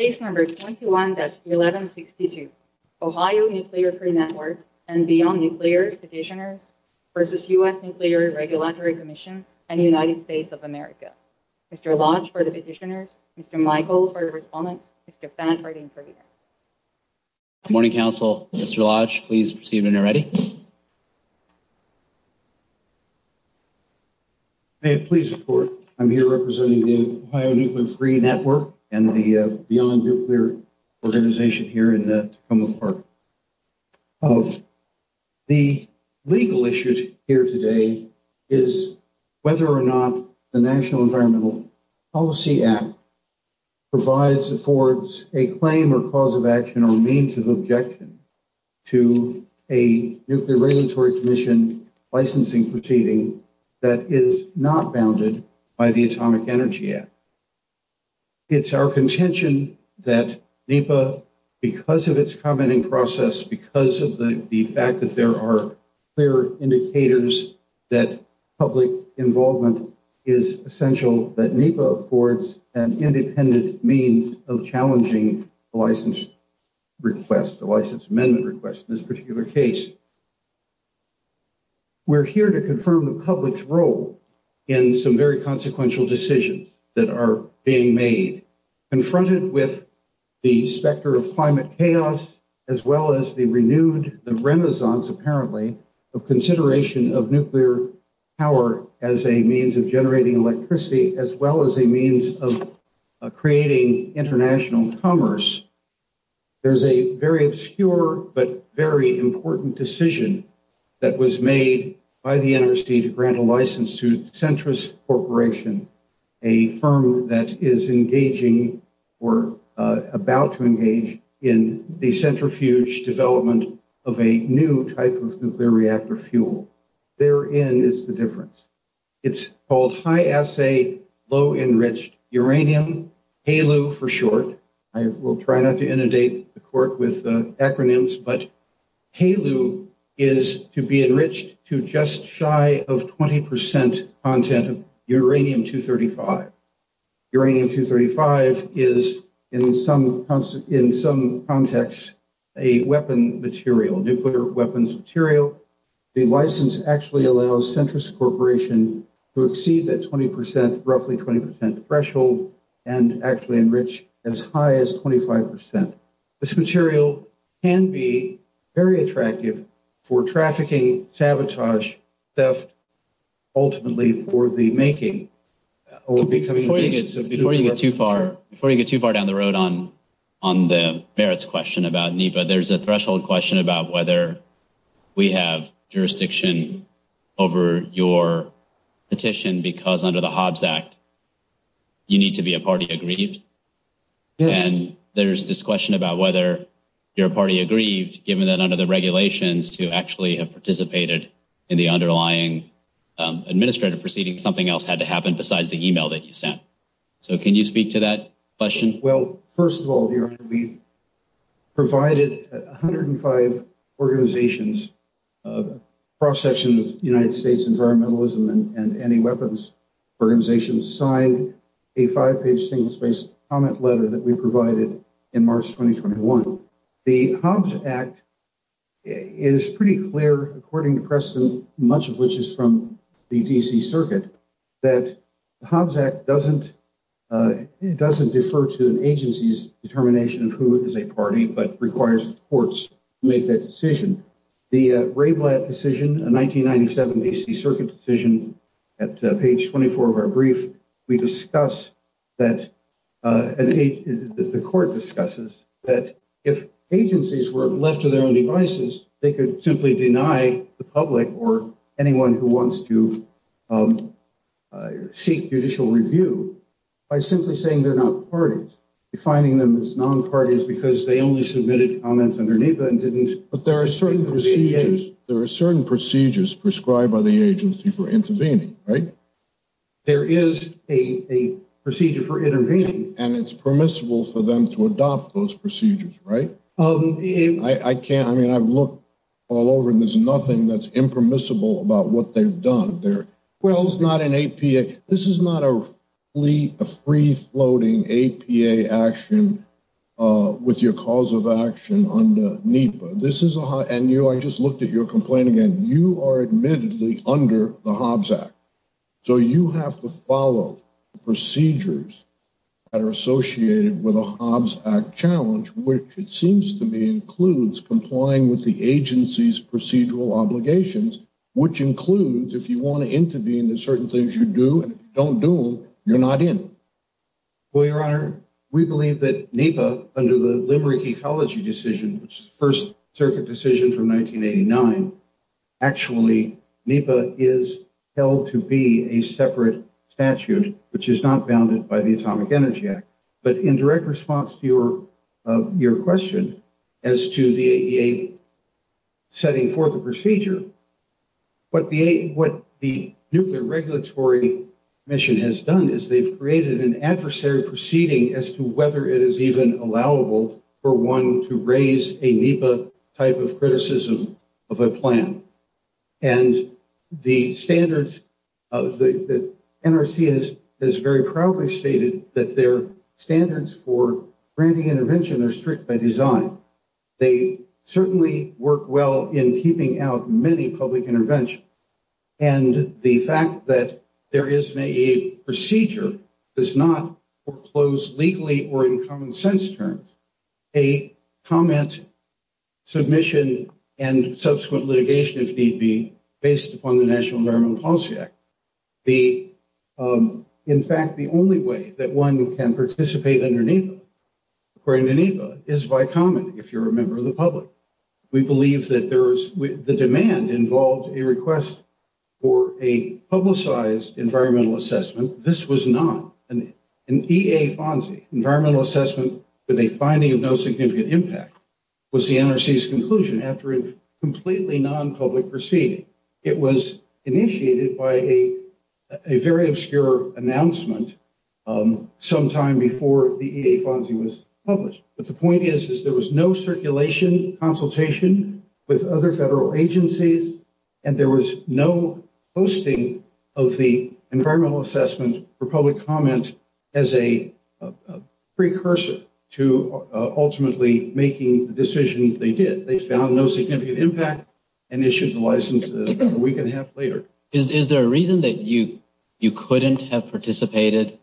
21-1162 Ohio Nuclear-Free Network and Beyond Nuclear Petitioners v. U.S. Nuclear Regulatory Commission and United States of America Mr. Lodge for the Petitioners, Mr. Michael for the Respondents, Mr. Phan for the Interpreters Good morning, Council. Mr. Lodge, please proceed when you're ready. May it please the Court. I'm here representing the Ohio Nuclear-Free Network and the Beyond Nuclear Organization here in Tacoma Park. The legal issue here today is whether or not the National Environmental Policy Act provides, affords a claim or cause of action or means of objection to a Nuclear Regulatory Commission licensing proceeding that is not bounded by the Atomic Energy Act. It's our contention that NEPA, because of its commenting process, because of the fact that there are clear indicators that public involvement is essential, that NEPA affords an independent means of challenging the license request, the license amendment request in this particular case. We're here to confirm the public's role in some very consequential decisions that are being made, confronted with the specter of climate chaos, as well as the renewed, the renaissance, apparently, of consideration of nuclear power as a means of generating electricity, as well as a means of creating international commerce. There's a very obscure but very important decision that was made by the NRC to grant a license to Centris Corporation, a firm that is engaging or about to engage in the centrifuge development of a new type of nuclear reactor fuel. Therein is the difference. It's called High Assay Low Enriched Uranium, HALU for short. I will try not to inundate the court with acronyms, but HALU is to be enriched to just shy of 20 percent content of Uranium-235. Uranium-235 is, in some context, a weapon material, nuclear weapons material. The license actually allows Centris Corporation to exceed that 20 percent, roughly 20 percent threshold, and actually enrich as high as 25 percent. This material can be very attractive for trafficking, sabotage, theft, ultimately for the making or becoming the basis of nuclear weapons. Before you get too far down the road on the merits question about NEPA, there's a threshold question about whether we have jurisdiction over your petition because under the Hobbs Act, you need to be a party aggrieved. Yes. And there's this question about whether you're a party aggrieved, given that under the regulations, to actually have participated in the underlying administrative proceeding, something else had to happen besides the email that you sent. So can you speak to that question? Well, first of all, we provided 105 organizations, a cross-section of the United States Environmentalism and Anti-Weapons Organizations, signed a five-page single-spaced comment letter that we provided in March 2021. The Hobbs Act is pretty clear, according to Preston, much of which is from the D.C. Circuit, that the Hobbs Act doesn't, it doesn't defer to an agency's determination of who is a party, but requires the courts to make that decision. The Rayblatt decision, a 1997 D.C. Circuit decision, at page 24 of our brief, we discuss that the court discusses that if agencies were left to their own devices, they could simply deny the public or anyone who wants to seek judicial review by simply saying they're not parties, defining them as non-parties because they only submitted comments under NEPA and didn't. But there are certain procedures prescribed by the agency for intervening, right? There is a procedure for intervening. And it's permissible for them to adopt those procedures, right? I can't, I mean, I've looked all over and there's nothing that's impermissible about what they've done. There, well, it's not an APA, this is not a free floating APA action with your cause of action under NEPA. This is a, and you, I just looked at your complaint again, you are admittedly under the Hobbs Act. So you have to follow the procedures that are associated with a Hobbs Act challenge, which it seems to me includes complying with the agency's procedural obligations, which includes if you want to intervene in certain things you do and don't do, you're not in. Well, Your Honor, we believe that NEPA, under the Limerick Ecology Decision, first circuit decision from 1989, actually NEPA is held to be a separate statute, which is not bounded by the Atomic Energy Act. But in direct response to your question as to the AEA setting for the procedure, what the nuclear regulatory mission has done is they've created an adversary proceeding as to whether it is even allowable for one to raise a NEPA type of criticism of a plan. And the standards, the NRC has very proudly stated that their standards for granting intervention are strict by design. They certainly work well in keeping out many public interventions. And the fact that there is an AEA procedure does not foreclose legally or in common sense terms a comment, submission and subsequent litigation, if need be, based upon the National Environmental Policy Act. In fact, the only way that one can participate under NEPA, according to NEPA, is by comment. If you're a member of the public, we believe that the demand involved a request for a publicized environmental assessment. So this was not an EA FONSI, environmental assessment with a finding of no significant impact, was the NRC's conclusion after a completely non-public proceeding. It was initiated by a very obscure announcement sometime before the EA FONSI was published. But the point is, is there was no circulation consultation with other federal agencies, and there was no hosting of the environmental assessment for public comment as a precursor to ultimately making the decision they did. They found no significant impact and issued the license a week and a half later. Is there a reason that you couldn't have participated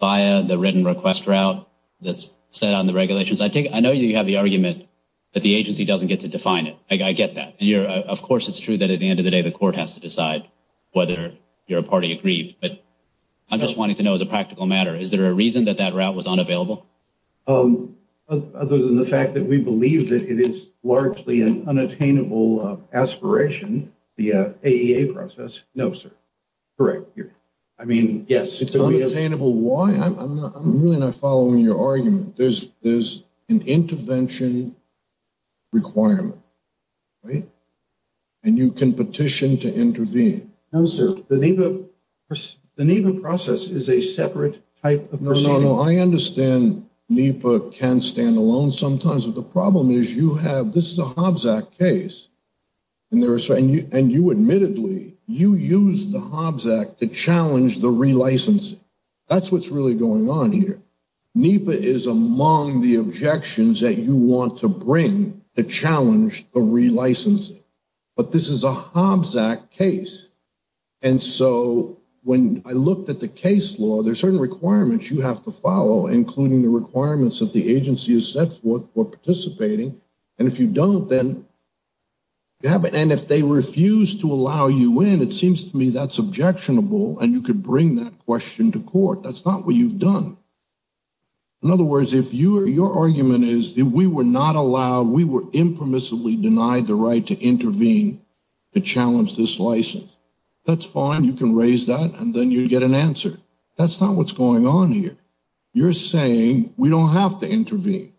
via the written request route that's set on the regulations? I know you have the argument that the agency doesn't get to define it. I get that. Of course, it's true that at the end of the day, the court has to decide whether you're a party agreed. But I'm just wanting to know as a practical matter, is there a reason that that route was unavailable? Other than the fact that we believe that it is largely an unattainable aspiration, the AEA process? No, sir. Correct. I mean, yes, it's unattainable. I'm really not following your argument. There's an intervention requirement, and you can petition to intervene. No, sir. The NEPA process is a separate type of proceeding. No, no, no. I understand NEPA can stand alone sometimes. The problem is you have, this is a Hobbs Act case, and you admittedly, you used the Hobbs Act to challenge the relicensing. That's what's really going on here. NEPA is among the objections that you want to bring to challenge the relicensing. But this is a Hobbs Act case. And so when I looked at the case law, there are certain requirements you have to follow, including the requirements that the agency has set forth for participating. And if you don't, then, and if they refuse to allow you in, it seems to me that's objectionable, and you could bring that question to court. That's not what you've done. In other words, if your argument is that we were not allowed, we were impermissibly denied the right to intervene to challenge this license, that's fine. You can raise that, and then you get an answer. That's not what's going on here. You're saying we don't have to intervene,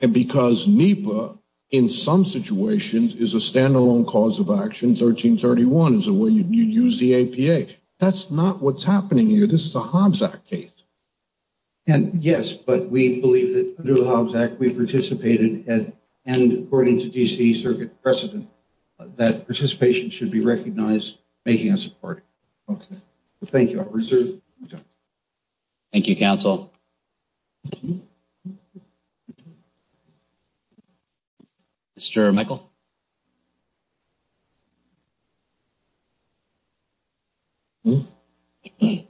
and because NEPA in some situations is a standalone cause of action, 1331 is the way you use the APA. That's not what's happening here. This is a Hobbs Act case. And yes, but we believe that under the Hobbs Act, we participated, and according to D.C. Circuit precedent, that participation should be recognized making us a party. Okay. Thank you. Thank you, counsel. Mr. Michael. Good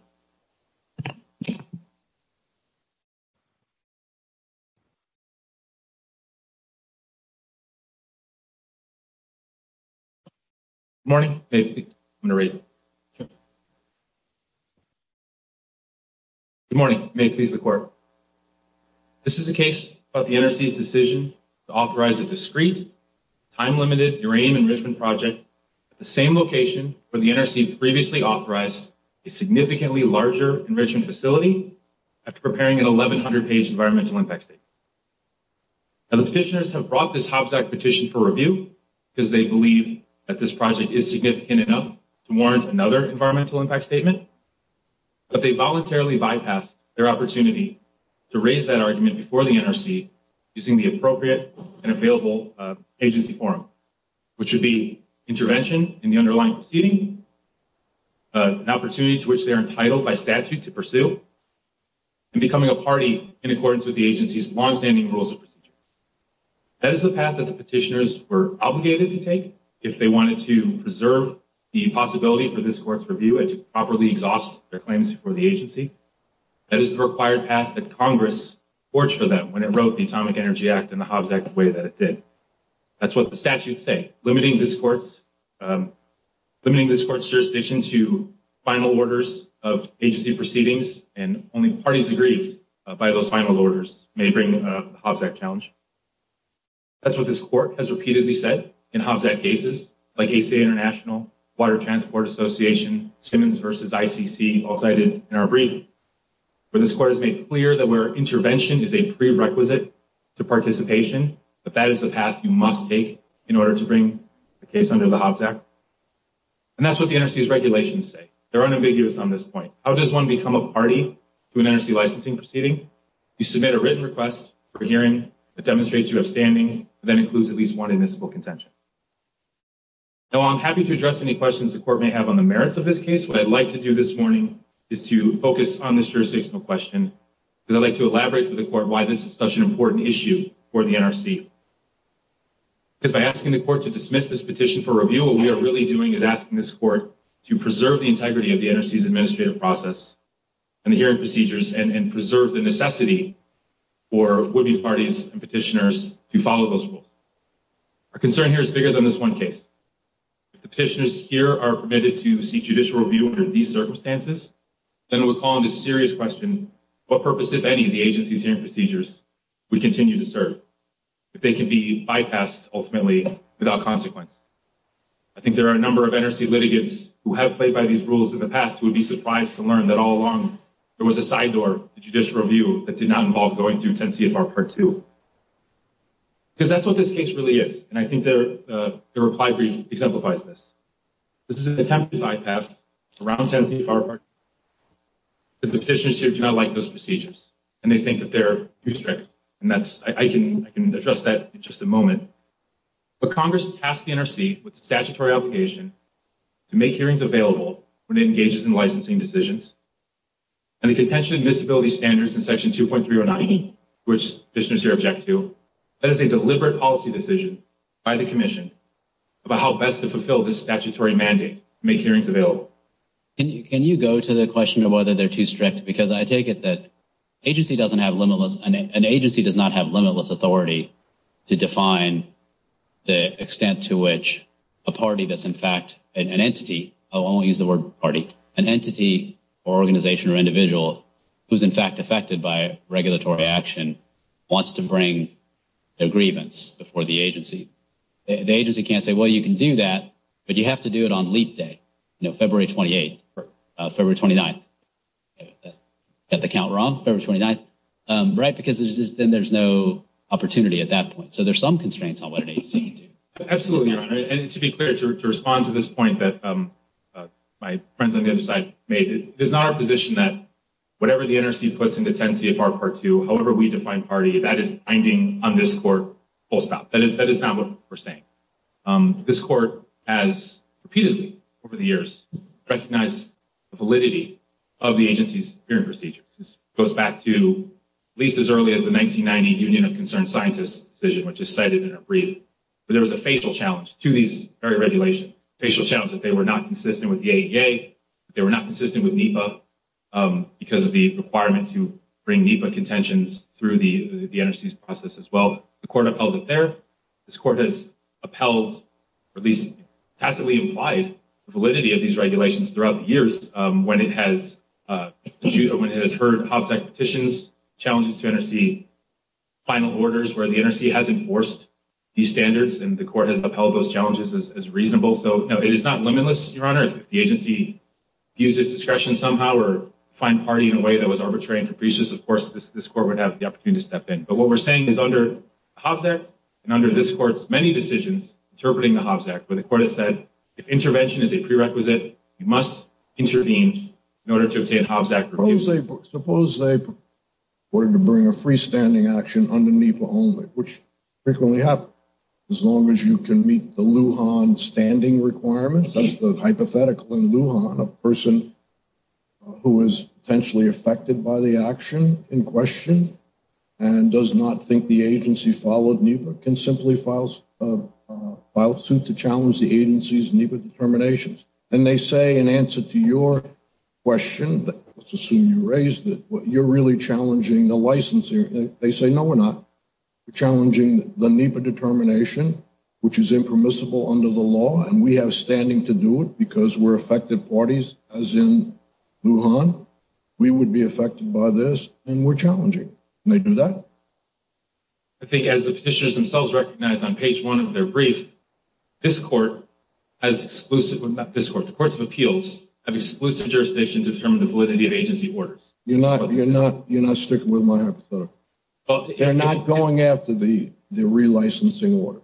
morning. I'm going to raise it. Good morning. May it please the court. This is a case about the NRC's decision to authorize a discreet, time-limited uranium enrichment project at the same location where the NRC previously authorized a significantly larger enrichment facility after preparing an 1,100-page environmental impact statement. Now, the petitioners have brought this Hobbs Act petition for review because they believe that this project is significant enough to warrant another environmental impact statement, but they voluntarily bypassed their opportunity to raise that argument before the NRC using the appropriate and available agency forum, which would be intervention in the underlying proceeding, an opportunity to which they are entitled by statute to pursue, and becoming a party in accordance with the agency's longstanding rules of procedure. That is the path that the petitioners were obligated to take if they wanted to preserve the possibility for this court's review and to properly exhaust their claims before the agency. That is the required path that Congress forged for them when it wrote the Atomic Energy Act and the Hobbs Act the way that it did. That's what the statutes say, limiting this court's jurisdiction to final orders of agency proceedings, and only parties agreed by those final orders may bring the Hobbs Act challenge. That's what this court has repeatedly said in Hobbs Act cases, like ACA International, Water Transport Association, Simmons v. ICC, all cited in our brief, where this court has made clear that where intervention is a prerequisite to participation, that that is the path you must take in order to bring the case under the Hobbs Act. And that's what the NRC's regulations say. They're unambiguous on this point. How does one become a party to an NRC licensing proceeding? You submit a written request for hearing that demonstrates you have standing, and that includes at least one admissible contention. Now, while I'm happy to address any questions the court may have on the merits of this case, what I'd like to do this morning is to focus on this jurisdictional question, because I'd like to elaborate for the court why this is such an important issue for the NRC. Because by asking the court to dismiss this petition for review, what we are really doing is asking this court to preserve the integrity of the NRC's administrative process and the hearing procedures and preserve the necessity for would-be parties and petitioners to follow those rules. Our concern here is bigger than this one case. If the petitioners here are permitted to seek judicial review under these circumstances, then it would call into serious question what purpose, if any, the agency's hearing procedures would continue to serve, if they could be bypassed ultimately without consequence. I think there are a number of NRC litigants who have played by these rules in the past who would be surprised to learn that all along there was a side door to judicial review that did not involve going through 10 CFR Part 2. Because that's what this case really is, and I think the reply brief exemplifies this. This is an attempt to bypass around 10 CFR Part 2, because the petitioners here do not like those procedures, and they think that they're too strict. I can address that in just a moment. But Congress tasked the NRC with the statutory obligation to make hearings available when it engages in licensing decisions, and the contention of admissibility standards in Section 2.309, which petitioners here object to, that is a deliberate policy decision by the Commission about how best to fulfill this statutory mandate to make hearings available. Can you go to the question of whether they're too strict? Because I take it that an agency does not have limitless authority to define the extent to which a party that's in fact an entity— or organization or individual who's in fact affected by regulatory action wants to bring a grievance before the agency. The agency can't say, well, you can do that, but you have to do it on leap day, you know, February 28th, February 29th. Got the count wrong? February 29th. Right, because then there's no opportunity at that point. So there's some constraints on what an agency can do. Absolutely, Your Honor. And to be clear, to respond to this point that my friends on the other side made, it is not our position that whatever the NRC puts into 10 CFR Part 2, however we define party, that is binding on this Court, full stop. That is not what we're saying. This Court has repeatedly over the years recognized the validity of the agency's hearing procedures. This goes back to at least as early as the 1990 Union of Concerned Scientists decision, which is cited in a brief. But there was a facial challenge to these very regulations, a facial challenge that they were not consistent with the ADA, they were not consistent with NEPA because of the requirements to bring NEPA contentions through the NRC's process as well. The Court upheld it there. This Court has upheld or at least tacitly implied the validity of these regulations throughout the years when it has heard Hobbs Act petitions, challenges to NRC, final orders where the NRC has enforced these standards, and the Court has upheld those challenges as reasonable. So it is not limitless, Your Honor, if the agency views its discretion somehow or find party in a way that was arbitrary and capricious, of course this Court would have the opportunity to step in. But what we're saying is under Hobbs Act and under this Court's many decisions interpreting the Hobbs Act where the Court has said if intervention is a prerequisite, you must intervene in order to obtain Hobbs Act reviews. Suppose they were to bring a freestanding action under NEPA only, which frequently happens. As long as you can meet the Lujan standing requirements, that's the hypothetical in Lujan, a person who is potentially affected by the action in question and does not think the agency followed NEPA can simply file a suit to challenge the agency's NEPA determinations. And they say in answer to your question, let's assume you raised it, you're really challenging the licensing. They say, no, we're not. We're challenging the NEPA determination, which is impermissible under the law, and we have standing to do it because we're affected parties, as in Lujan. We would be affected by this, and we're challenging. And they do that. I think as the petitioners themselves recognize on page one of their brief, this court has exclusive, not this court, the courts of appeals have exclusive jurisdictions to determine the validity of agency orders. You're not sticking with my hypothetical. They're not going after the relicensing order.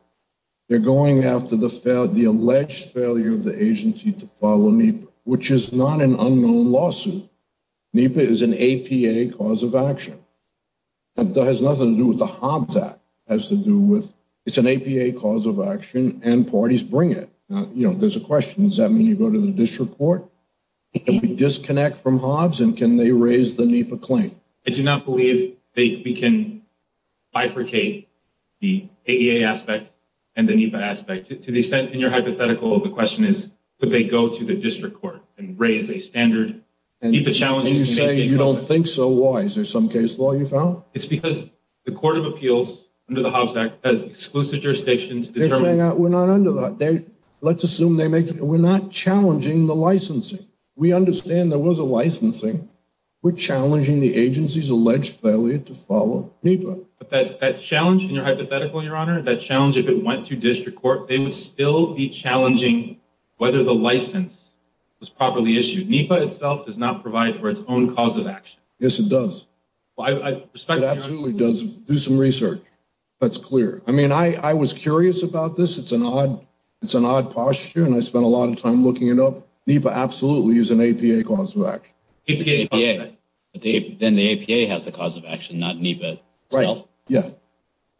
They're going after the alleged failure of the agency to follow NEPA, which is not an unknown lawsuit. NEPA is an APA cause of action. It has nothing to do with the Hobbs Act. It's an APA cause of action, and parties bring it. There's a question. Does that mean you go to the district court? Can we disconnect from Hobbs, and can they raise the NEPA claim? I do not believe we can bifurcate the AEA aspect and the NEPA aspect. To the extent, in your hypothetical, the question is could they go to the district court and raise a standard NEPA challenge? And you say you don't think so. Why? Is there some case law you found? It's because the Court of Appeals, under the Hobbs Act, has exclusive jurisdiction to determine. We're not under that. Let's assume we're not challenging the licensing. We understand there was a licensing. We're challenging the agency's alleged failure to follow NEPA. But that challenge in your hypothetical, Your Honor, that challenge if it went to district court, they would still be challenging whether the license was properly issued. NEPA itself does not provide for its own cause of action. Yes, it does. It absolutely does. Do some research. That's clear. I mean, I was curious about this. It's an odd posture, and I spent a lot of time looking it up. NEPA absolutely is an APA cause of action. It's APA. Then the APA has the cause of action, not NEPA itself. Right. Yeah.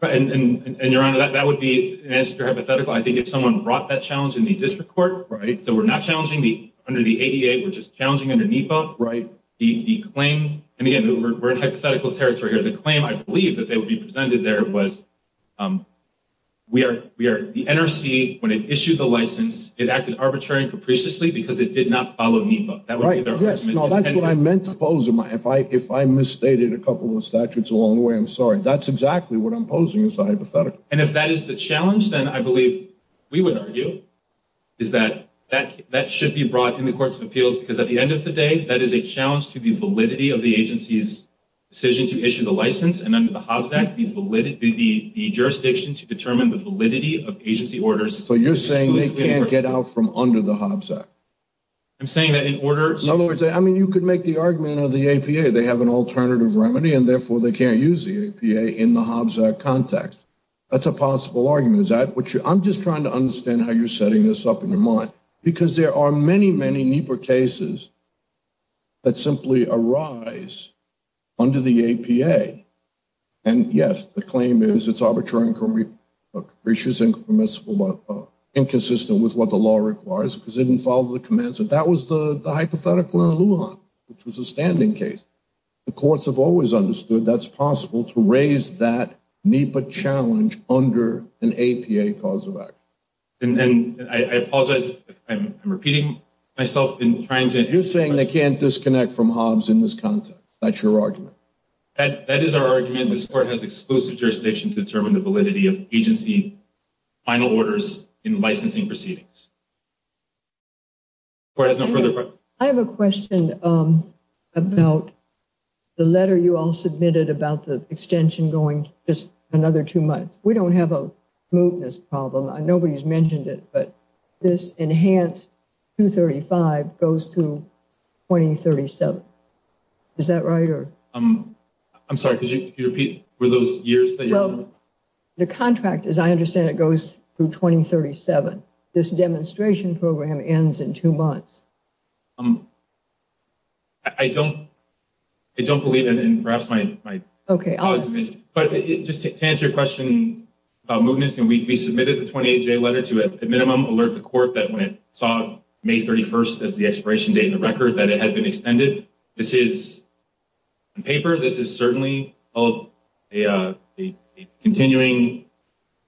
And, Your Honor, that would be, as your hypothetical, I think if someone brought that challenge in the district court, so we're not challenging under the AEA, we're just challenging under NEPA. Right. And, again, we're in hypothetical territory here. The claim, I believe, that would be presented there was the NRC, when it issued the license, it acted arbitrarily and capriciously because it did not follow NEPA. Right. Yes. No, that's what I meant to pose. If I misstated a couple of statutes along the way, I'm sorry. That's exactly what I'm posing as a hypothetical. And if that is the challenge, then I believe we would argue is that that should be brought in the courts of appeals, because at the end of the day, that is a challenge to the validity of the agency's decision to issue the license, and under the Hobbs Act, the jurisdiction to determine the validity of agency orders. So you're saying they can't get out from under the Hobbs Act? I'm saying that in order. In other words, I mean, you could make the argument of the APA. They have an alternative remedy, and therefore they can't use the APA in the Hobbs Act context. That's a possible argument. I'm just trying to understand how you're setting this up in your mind, because there are many, many NEPA cases that simply arise under the APA. And yes, the claim is it's arbitrary, and it's inconsistent with what the law requires, because it didn't follow the commands. And that was the hypothetical in Lujan, which was a standing case. The courts have always understood that's possible to raise that NEPA challenge under an APA cause of action. I apologize. I'm repeating myself in trying to. You're saying they can't disconnect from Hobbs in this context. That's your argument. That is our argument. This court has exclusive jurisdiction to determine the validity of agency final orders in licensing proceedings. I have a question about the letter you all submitted about the extension going just another two months. We don't have a smoothness problem. Nobody's mentioned it, but this enhanced 235 goes to 2037. Is that right? I'm sorry. Could you repeat? Were those years? The contract, as I understand it, goes through 2037. This demonstration program ends in two months. I don't believe it. Just to answer your question about smoothness, we submitted the 28-J letter to at minimum alert the court that when it saw May 31st as the expiration date in the record that it had been extended. This is on paper. This is certainly a continuing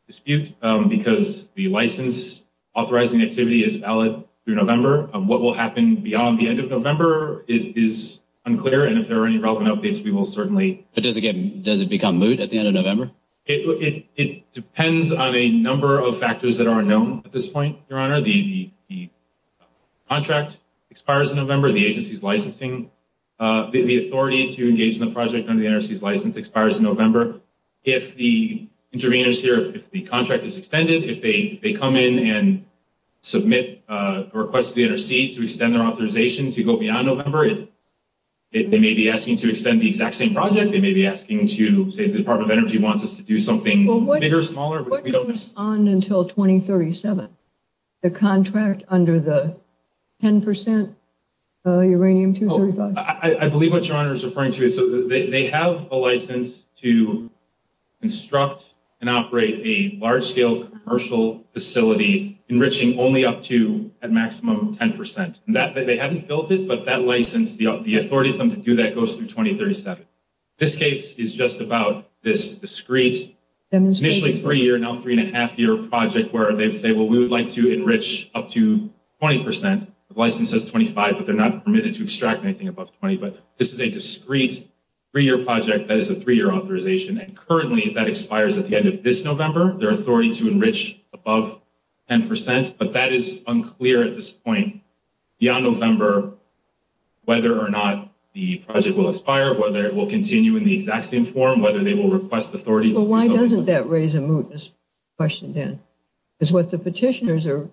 dispute because the license authorizing activity is valid through November. What will happen beyond the end of November is unclear, and if there are any relevant updates, we will certainly. But does it become moot at the end of November? It depends on a number of factors that are unknown at this point, Your Honor. The contract expires in November. The agency's licensing, the authority to engage in the project under the NRC's license expires in November. If the interveners here, if the contract is extended, if they come in and submit a request to the NRC to extend their authorization to go beyond November, they may be asking to extend the exact same project. They may be asking to say the Department of Energy wants us to do something bigger or smaller. What goes on until 2037? The contract under the 10% uranium-235. I believe what Your Honor is referring to. They have a license to construct and operate a large-scale commercial facility enriching only up to at maximum 10%. They haven't built it, but that license, the authority for them to do that goes through 2037. This case is just about this discreet, initially three-year, now three-and-a-half-year project where they say, well, we would like to enrich up to 20%. The license says 25, but they're not permitted to extract anything above 20. But this is a discreet three-year project that is a three-year authorization, and currently that expires at the end of this November. Their authority to enrich above 10%, but that is unclear at this point. Beyond November, whether or not the project will expire, whether it will continue in the exact same form, whether they will request authority. Well, why doesn't that raise a mootness question, Dan? Because what the petitioners are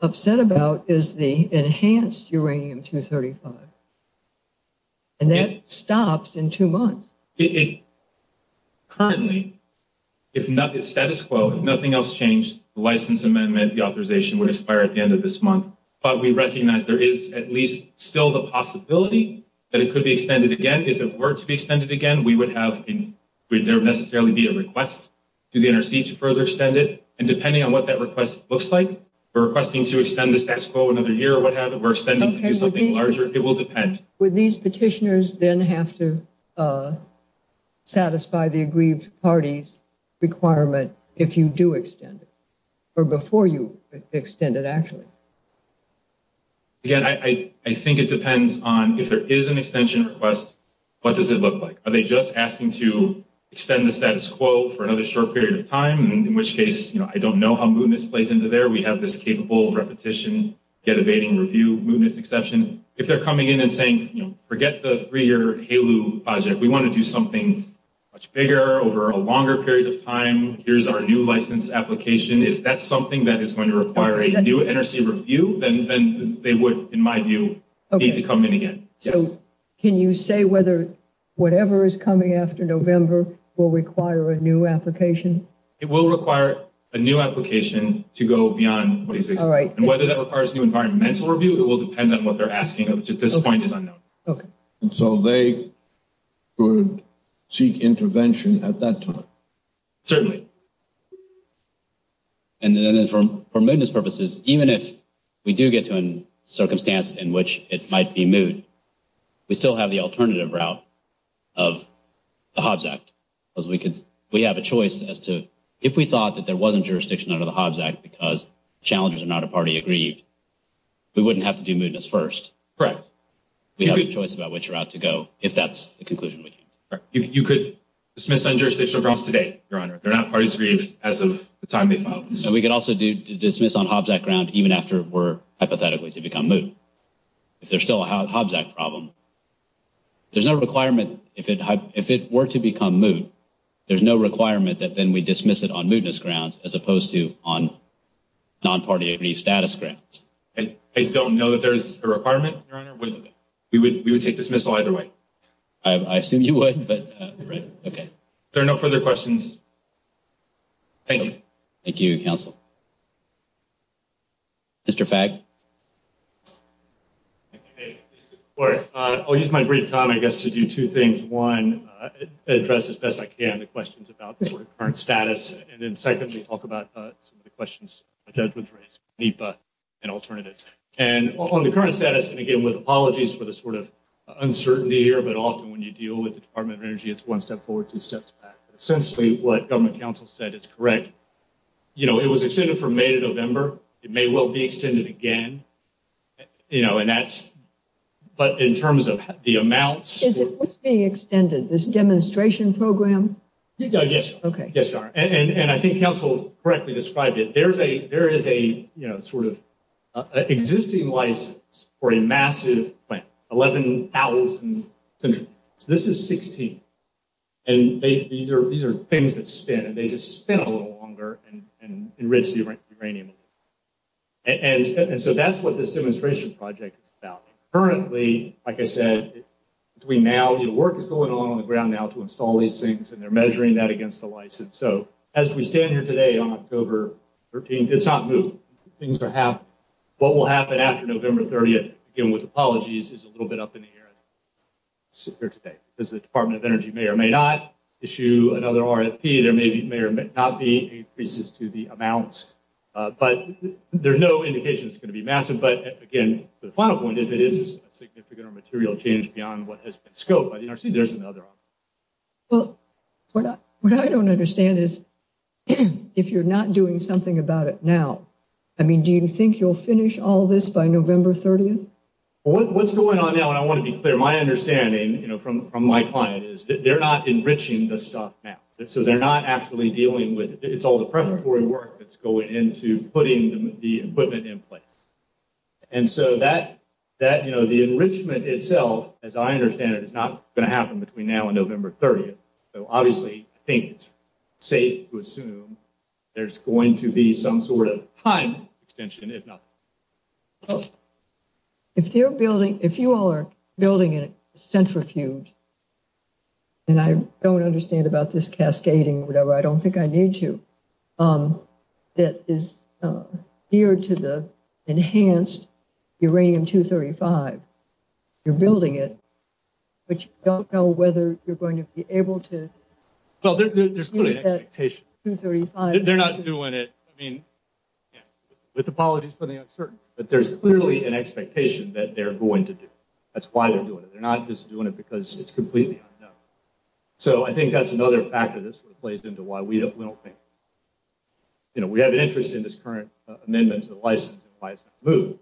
upset about is the enhanced uranium-235. And that stops in two months. Currently, if nothing else changed, the license amendment, the authorization would expire at the end of this month. But we recognize there is at least still the possibility that it could be extended again. If it were to be extended again, would there necessarily be a request to the NRC to further extend it? And depending on what that request looks like, requesting to extend the status quo another year or what have it, or extending to do something larger, it will depend. Would these petitioners then have to satisfy the aggrieved party's requirement if you do extend it? Or before you extend it, actually? Again, I think it depends on if there is an extension request, what does it look like? Are they just asking to extend the status quo for another short period of time, in which case, you know, I don't know how mootness plays into there. We have this capable repetition, yet evading review mootness exception. If they're coming in and saying, you know, forget the three-year HALU project. We want to do something much bigger over a longer period of time. Here's our new license application. If that's something that is going to require a new NRC review, then they would, in my view, need to come in again. So can you say whether whatever is coming after November will require a new application? It will require a new application to go beyond what exists. And whether that requires new environmental review, it will depend on what they're asking, which at this point is unknown. Okay. And so they would seek intervention at that time? Certainly. And then for mootness purposes, even if we do get to a circumstance in which it might be moot, we still have the alternative route of the Hobbs Act. Because we have a choice as to if we thought that there wasn't jurisdiction under the Hobbs Act because challengers are not a party aggrieved, we wouldn't have to do mootness first. Correct. to. You could dismiss on jurisdictional grounds today, Your Honor. They're not parties aggrieved as of the time they filed this. We could also do dismiss on Hobbs Act ground, even after we're hypothetically to become moot. If there's still a Hobbs Act problem, there's no requirement. If it were to become moot, there's no requirement that then we dismiss it on mootness grounds as opposed to on non-party aggrieved status grounds. I don't know that there's a requirement, Your Honor. We would take dismissal either way. I assume you would. Are there no further questions? Thank you. Thank you, counsel. Mr. Fagg. I'll use my brief time, I guess, to do two things. One, address as best I can the questions about the current status. And then secondly, talk about some of the questions the judge was raised, NEPA and alternatives. And on the current status, and again, with apologies for the sort of uncertainty here, but often when you deal with the Department of Energy, it's one step forward, two steps back. Essentially what government counsel said is correct. It was extended from May to November. It may well be extended again. But in terms of the amounts. What's being extended, this demonstration program? Yes, Your Honor. And I think counsel correctly described it. There is a sort of existing license for a massive plant, 11,000. This is 16. And these are things that spin, and they just spin a little longer and enrich the uranium. And so that's what this demonstration project is about. Currently, like I said, between now, work is going on on the ground now to install these things, and they're measuring that against the license. So as we stand here today on October 13th, it's not moving. What will happen after November 30th, again with apologies, is a little bit up in the air as we sit here today. Because the Department of Energy may or may not issue another RFP. There may or may not be increases to the amounts. But there's no indication it's going to be massive. But, again, the final point, if it is a significant or material change beyond what has been scoped by the NRC, there's another option. Well, what I don't understand is if you're not doing something about it now, I mean, do you think you'll finish all this by November 30th? Well, what's going on now, and I want to be clear, my understanding from my client is that they're not enriching the stuff now. So they're not actually dealing with it. It's all the preparatory work that's going into putting the equipment in place. And so that, you know, the enrichment itself, as I understand it, is not going to happen between now and November 30th. So, obviously, I think it's safe to assume there's going to be some sort of time extension, if not. If you all are building a centrifuge, and I don't understand about this cascading or whatever, I don't think I need to, that is geared to the enhanced uranium-235, you're building it, but you don't know whether you're going to be able to use that 235. Well, there's clearly an expectation. They're not doing it, I mean, with apologies for the uncertainty. But there's clearly an expectation that they're going to do it. That's why they're doing it. They're not just doing it because it's completely unknown. So I think that's another factor that sort of plays into why we don't think. You know, we have an interest in this current amendment to the license and why it's not moved.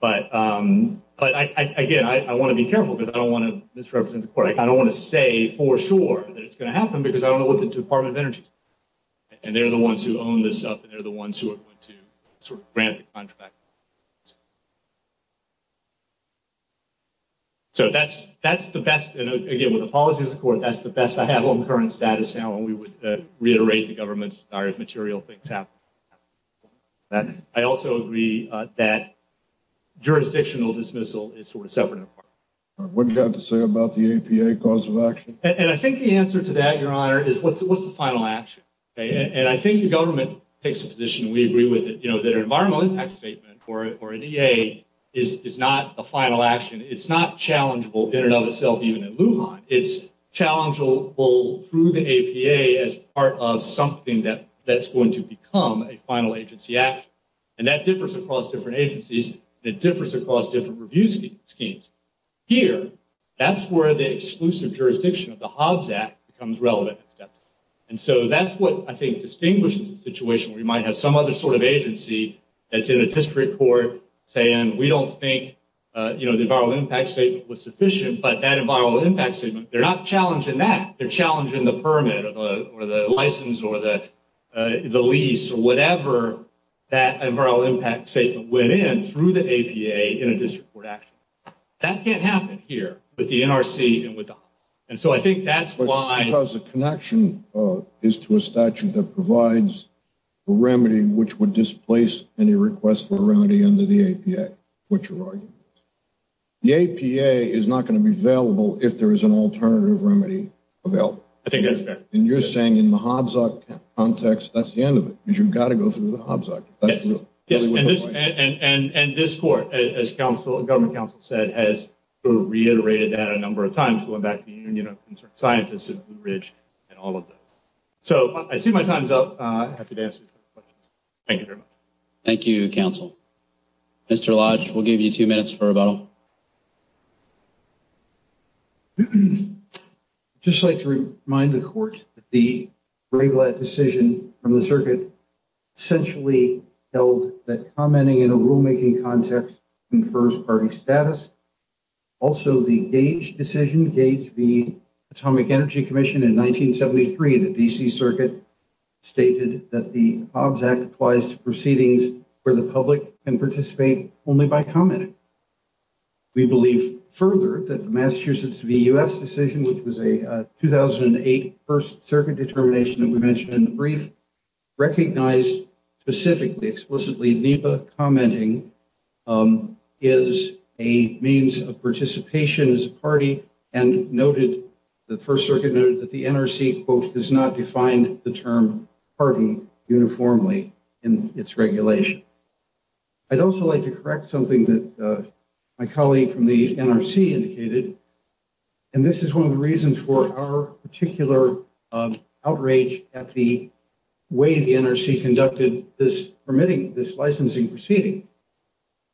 But, again, I want to be careful, because I don't want to misrepresent the court. I don't want to say for sure that it's going to happen, because I don't know what the Department of Energy is. And they're the ones who own this stuff, and they're the ones who are going to sort of grant the contract. So that's the best, and, again, with apologies to the court, that's the best I have on current status now, and we would reiterate the government's desire if material things happen. I also agree that jurisdictional dismissal is sort of separate. What do you have to say about the APA cause of action? And I think the answer to that, Your Honor, is what's the final action? And I think the government takes a position, and we agree with it, that an environmental impact statement or an EA is not a final action. It's not challengeable in and of itself, even at Lujan. It's challengeable through the APA as part of something that's going to become a final agency action, and that differs across different agencies, and it differs across different review schemes. Here, that's where the exclusive jurisdiction of the Hobbs Act becomes relevant in steps. And so that's what I think distinguishes the situation. We might have some other sort of agency that's in a district court saying, we don't think the environmental impact statement was sufficient, but that environmental impact statement, they're not challenging that. They're challenging the permit or the license or the lease or whatever that environmental impact statement went in through the APA in a district court action. That can't happen here with the NRC and with the Hobbs Act. And so I think that's why. Because the connection is to a statute that provides a remedy which would displace any request for a remedy under the APA, which are arguments. The APA is not going to be available if there is an alternative remedy available. I think that's fair. And you're saying in the Hobbs Act context, that's the end of it. Because you've got to go through the Hobbs Act. And this court, as government counsel said, has reiterated that a number of times going back to the Union of Concerned Scientists at Blue Ridge and all of that. So I see my time's up. I'm happy to answer your questions. Thank you very much. Thank you, counsel. Mr. Lodge, we'll give you two minutes for rebuttal. I'd just like to remind the court that the Brayblatt decision from the circuit essentially held that commenting in a rulemaking context confers party status. Also the Gage decision, Gage v. Atomic Energy Commission in 1973, the DC circuit stated that the Hobbs Act applies to proceedings where the public can participate only by commenting. We believe further that the Massachusetts v. U.S. decision, which was a 2008 First Circuit determination that we mentioned in the brief, recognized specifically, explicitly, NEPA commenting is a means of participation as a party and noted, the First Circuit noted that the NRC, quote, does not define the term party uniformly in its regulation. I'd also like to correct something that my colleague from the NRC indicated, and this is one of the reasons for our particular outrage at the way the NRC conducted this permitting, this licensing proceeding.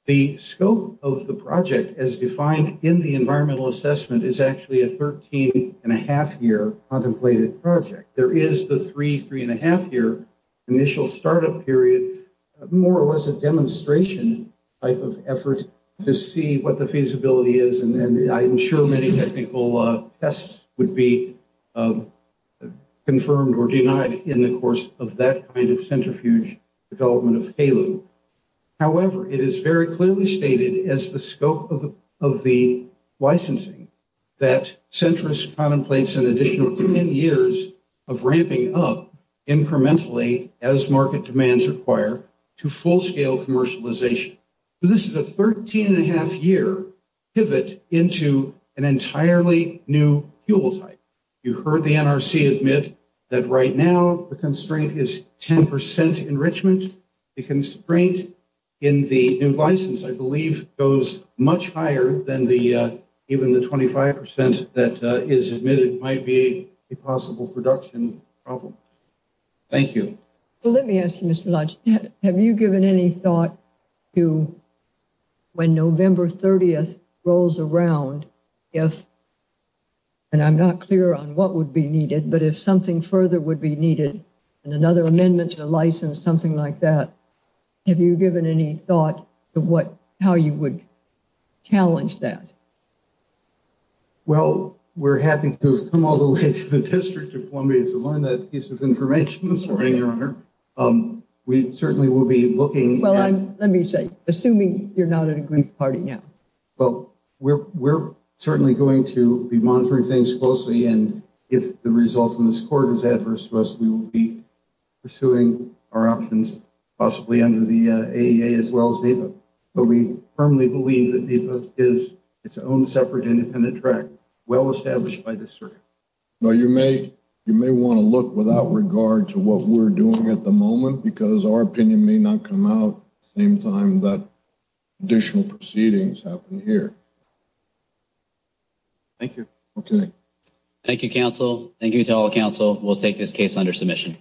The scope of the project as defined in the environmental assessment is actually a 13 and a half year contemplated project. There is the three, three and a half year initial startup period, more or less a demonstration type of effort to see what the feasibility is. And then I'm sure many technical tests would be confirmed or denied in the course of that kind of centrifuge development of HALU. However, it is very clearly stated as the scope of the licensing that centrist contemplates an additional 10 years of ramping up incrementally as market demands require to full scale commercialization. This is a 13 and a half year pivot into an entirely new fuel type. You heard the NRC admit that right now the constraint is 10% enrichment. The constraint in the new license, I believe, goes much higher than even the 25% that is admitted might be a possible production problem. Thank you. Well, let me ask you, Mr. Lodge, have you given any thought to when November 30th rolls around, if, and I'm not clear on what would be needed, but if something further would be needed and another amendment to license or something like that, have you given any thought to how you would challenge that? Well, we're happy to have come all the way to the District of Columbia to learn that piece of information this morning, Your Honor. We certainly will be looking. Well, let me say, assuming you're not at a group party now. Well, we're certainly going to be monitoring things closely. And if the result in this court is adverse to us, we will be pursuing our options possibly under the AEA as well as NEPA. But we firmly believe that NEPA is its own separate independent track, well-established by this circuit. Well, you may want to look without regard to what we're doing at the moment because our opinion may not come out the same time that additional proceedings happen here. Thank you. Okay. Thank you, counsel. Thank you to all counsel. We'll take this case under submission.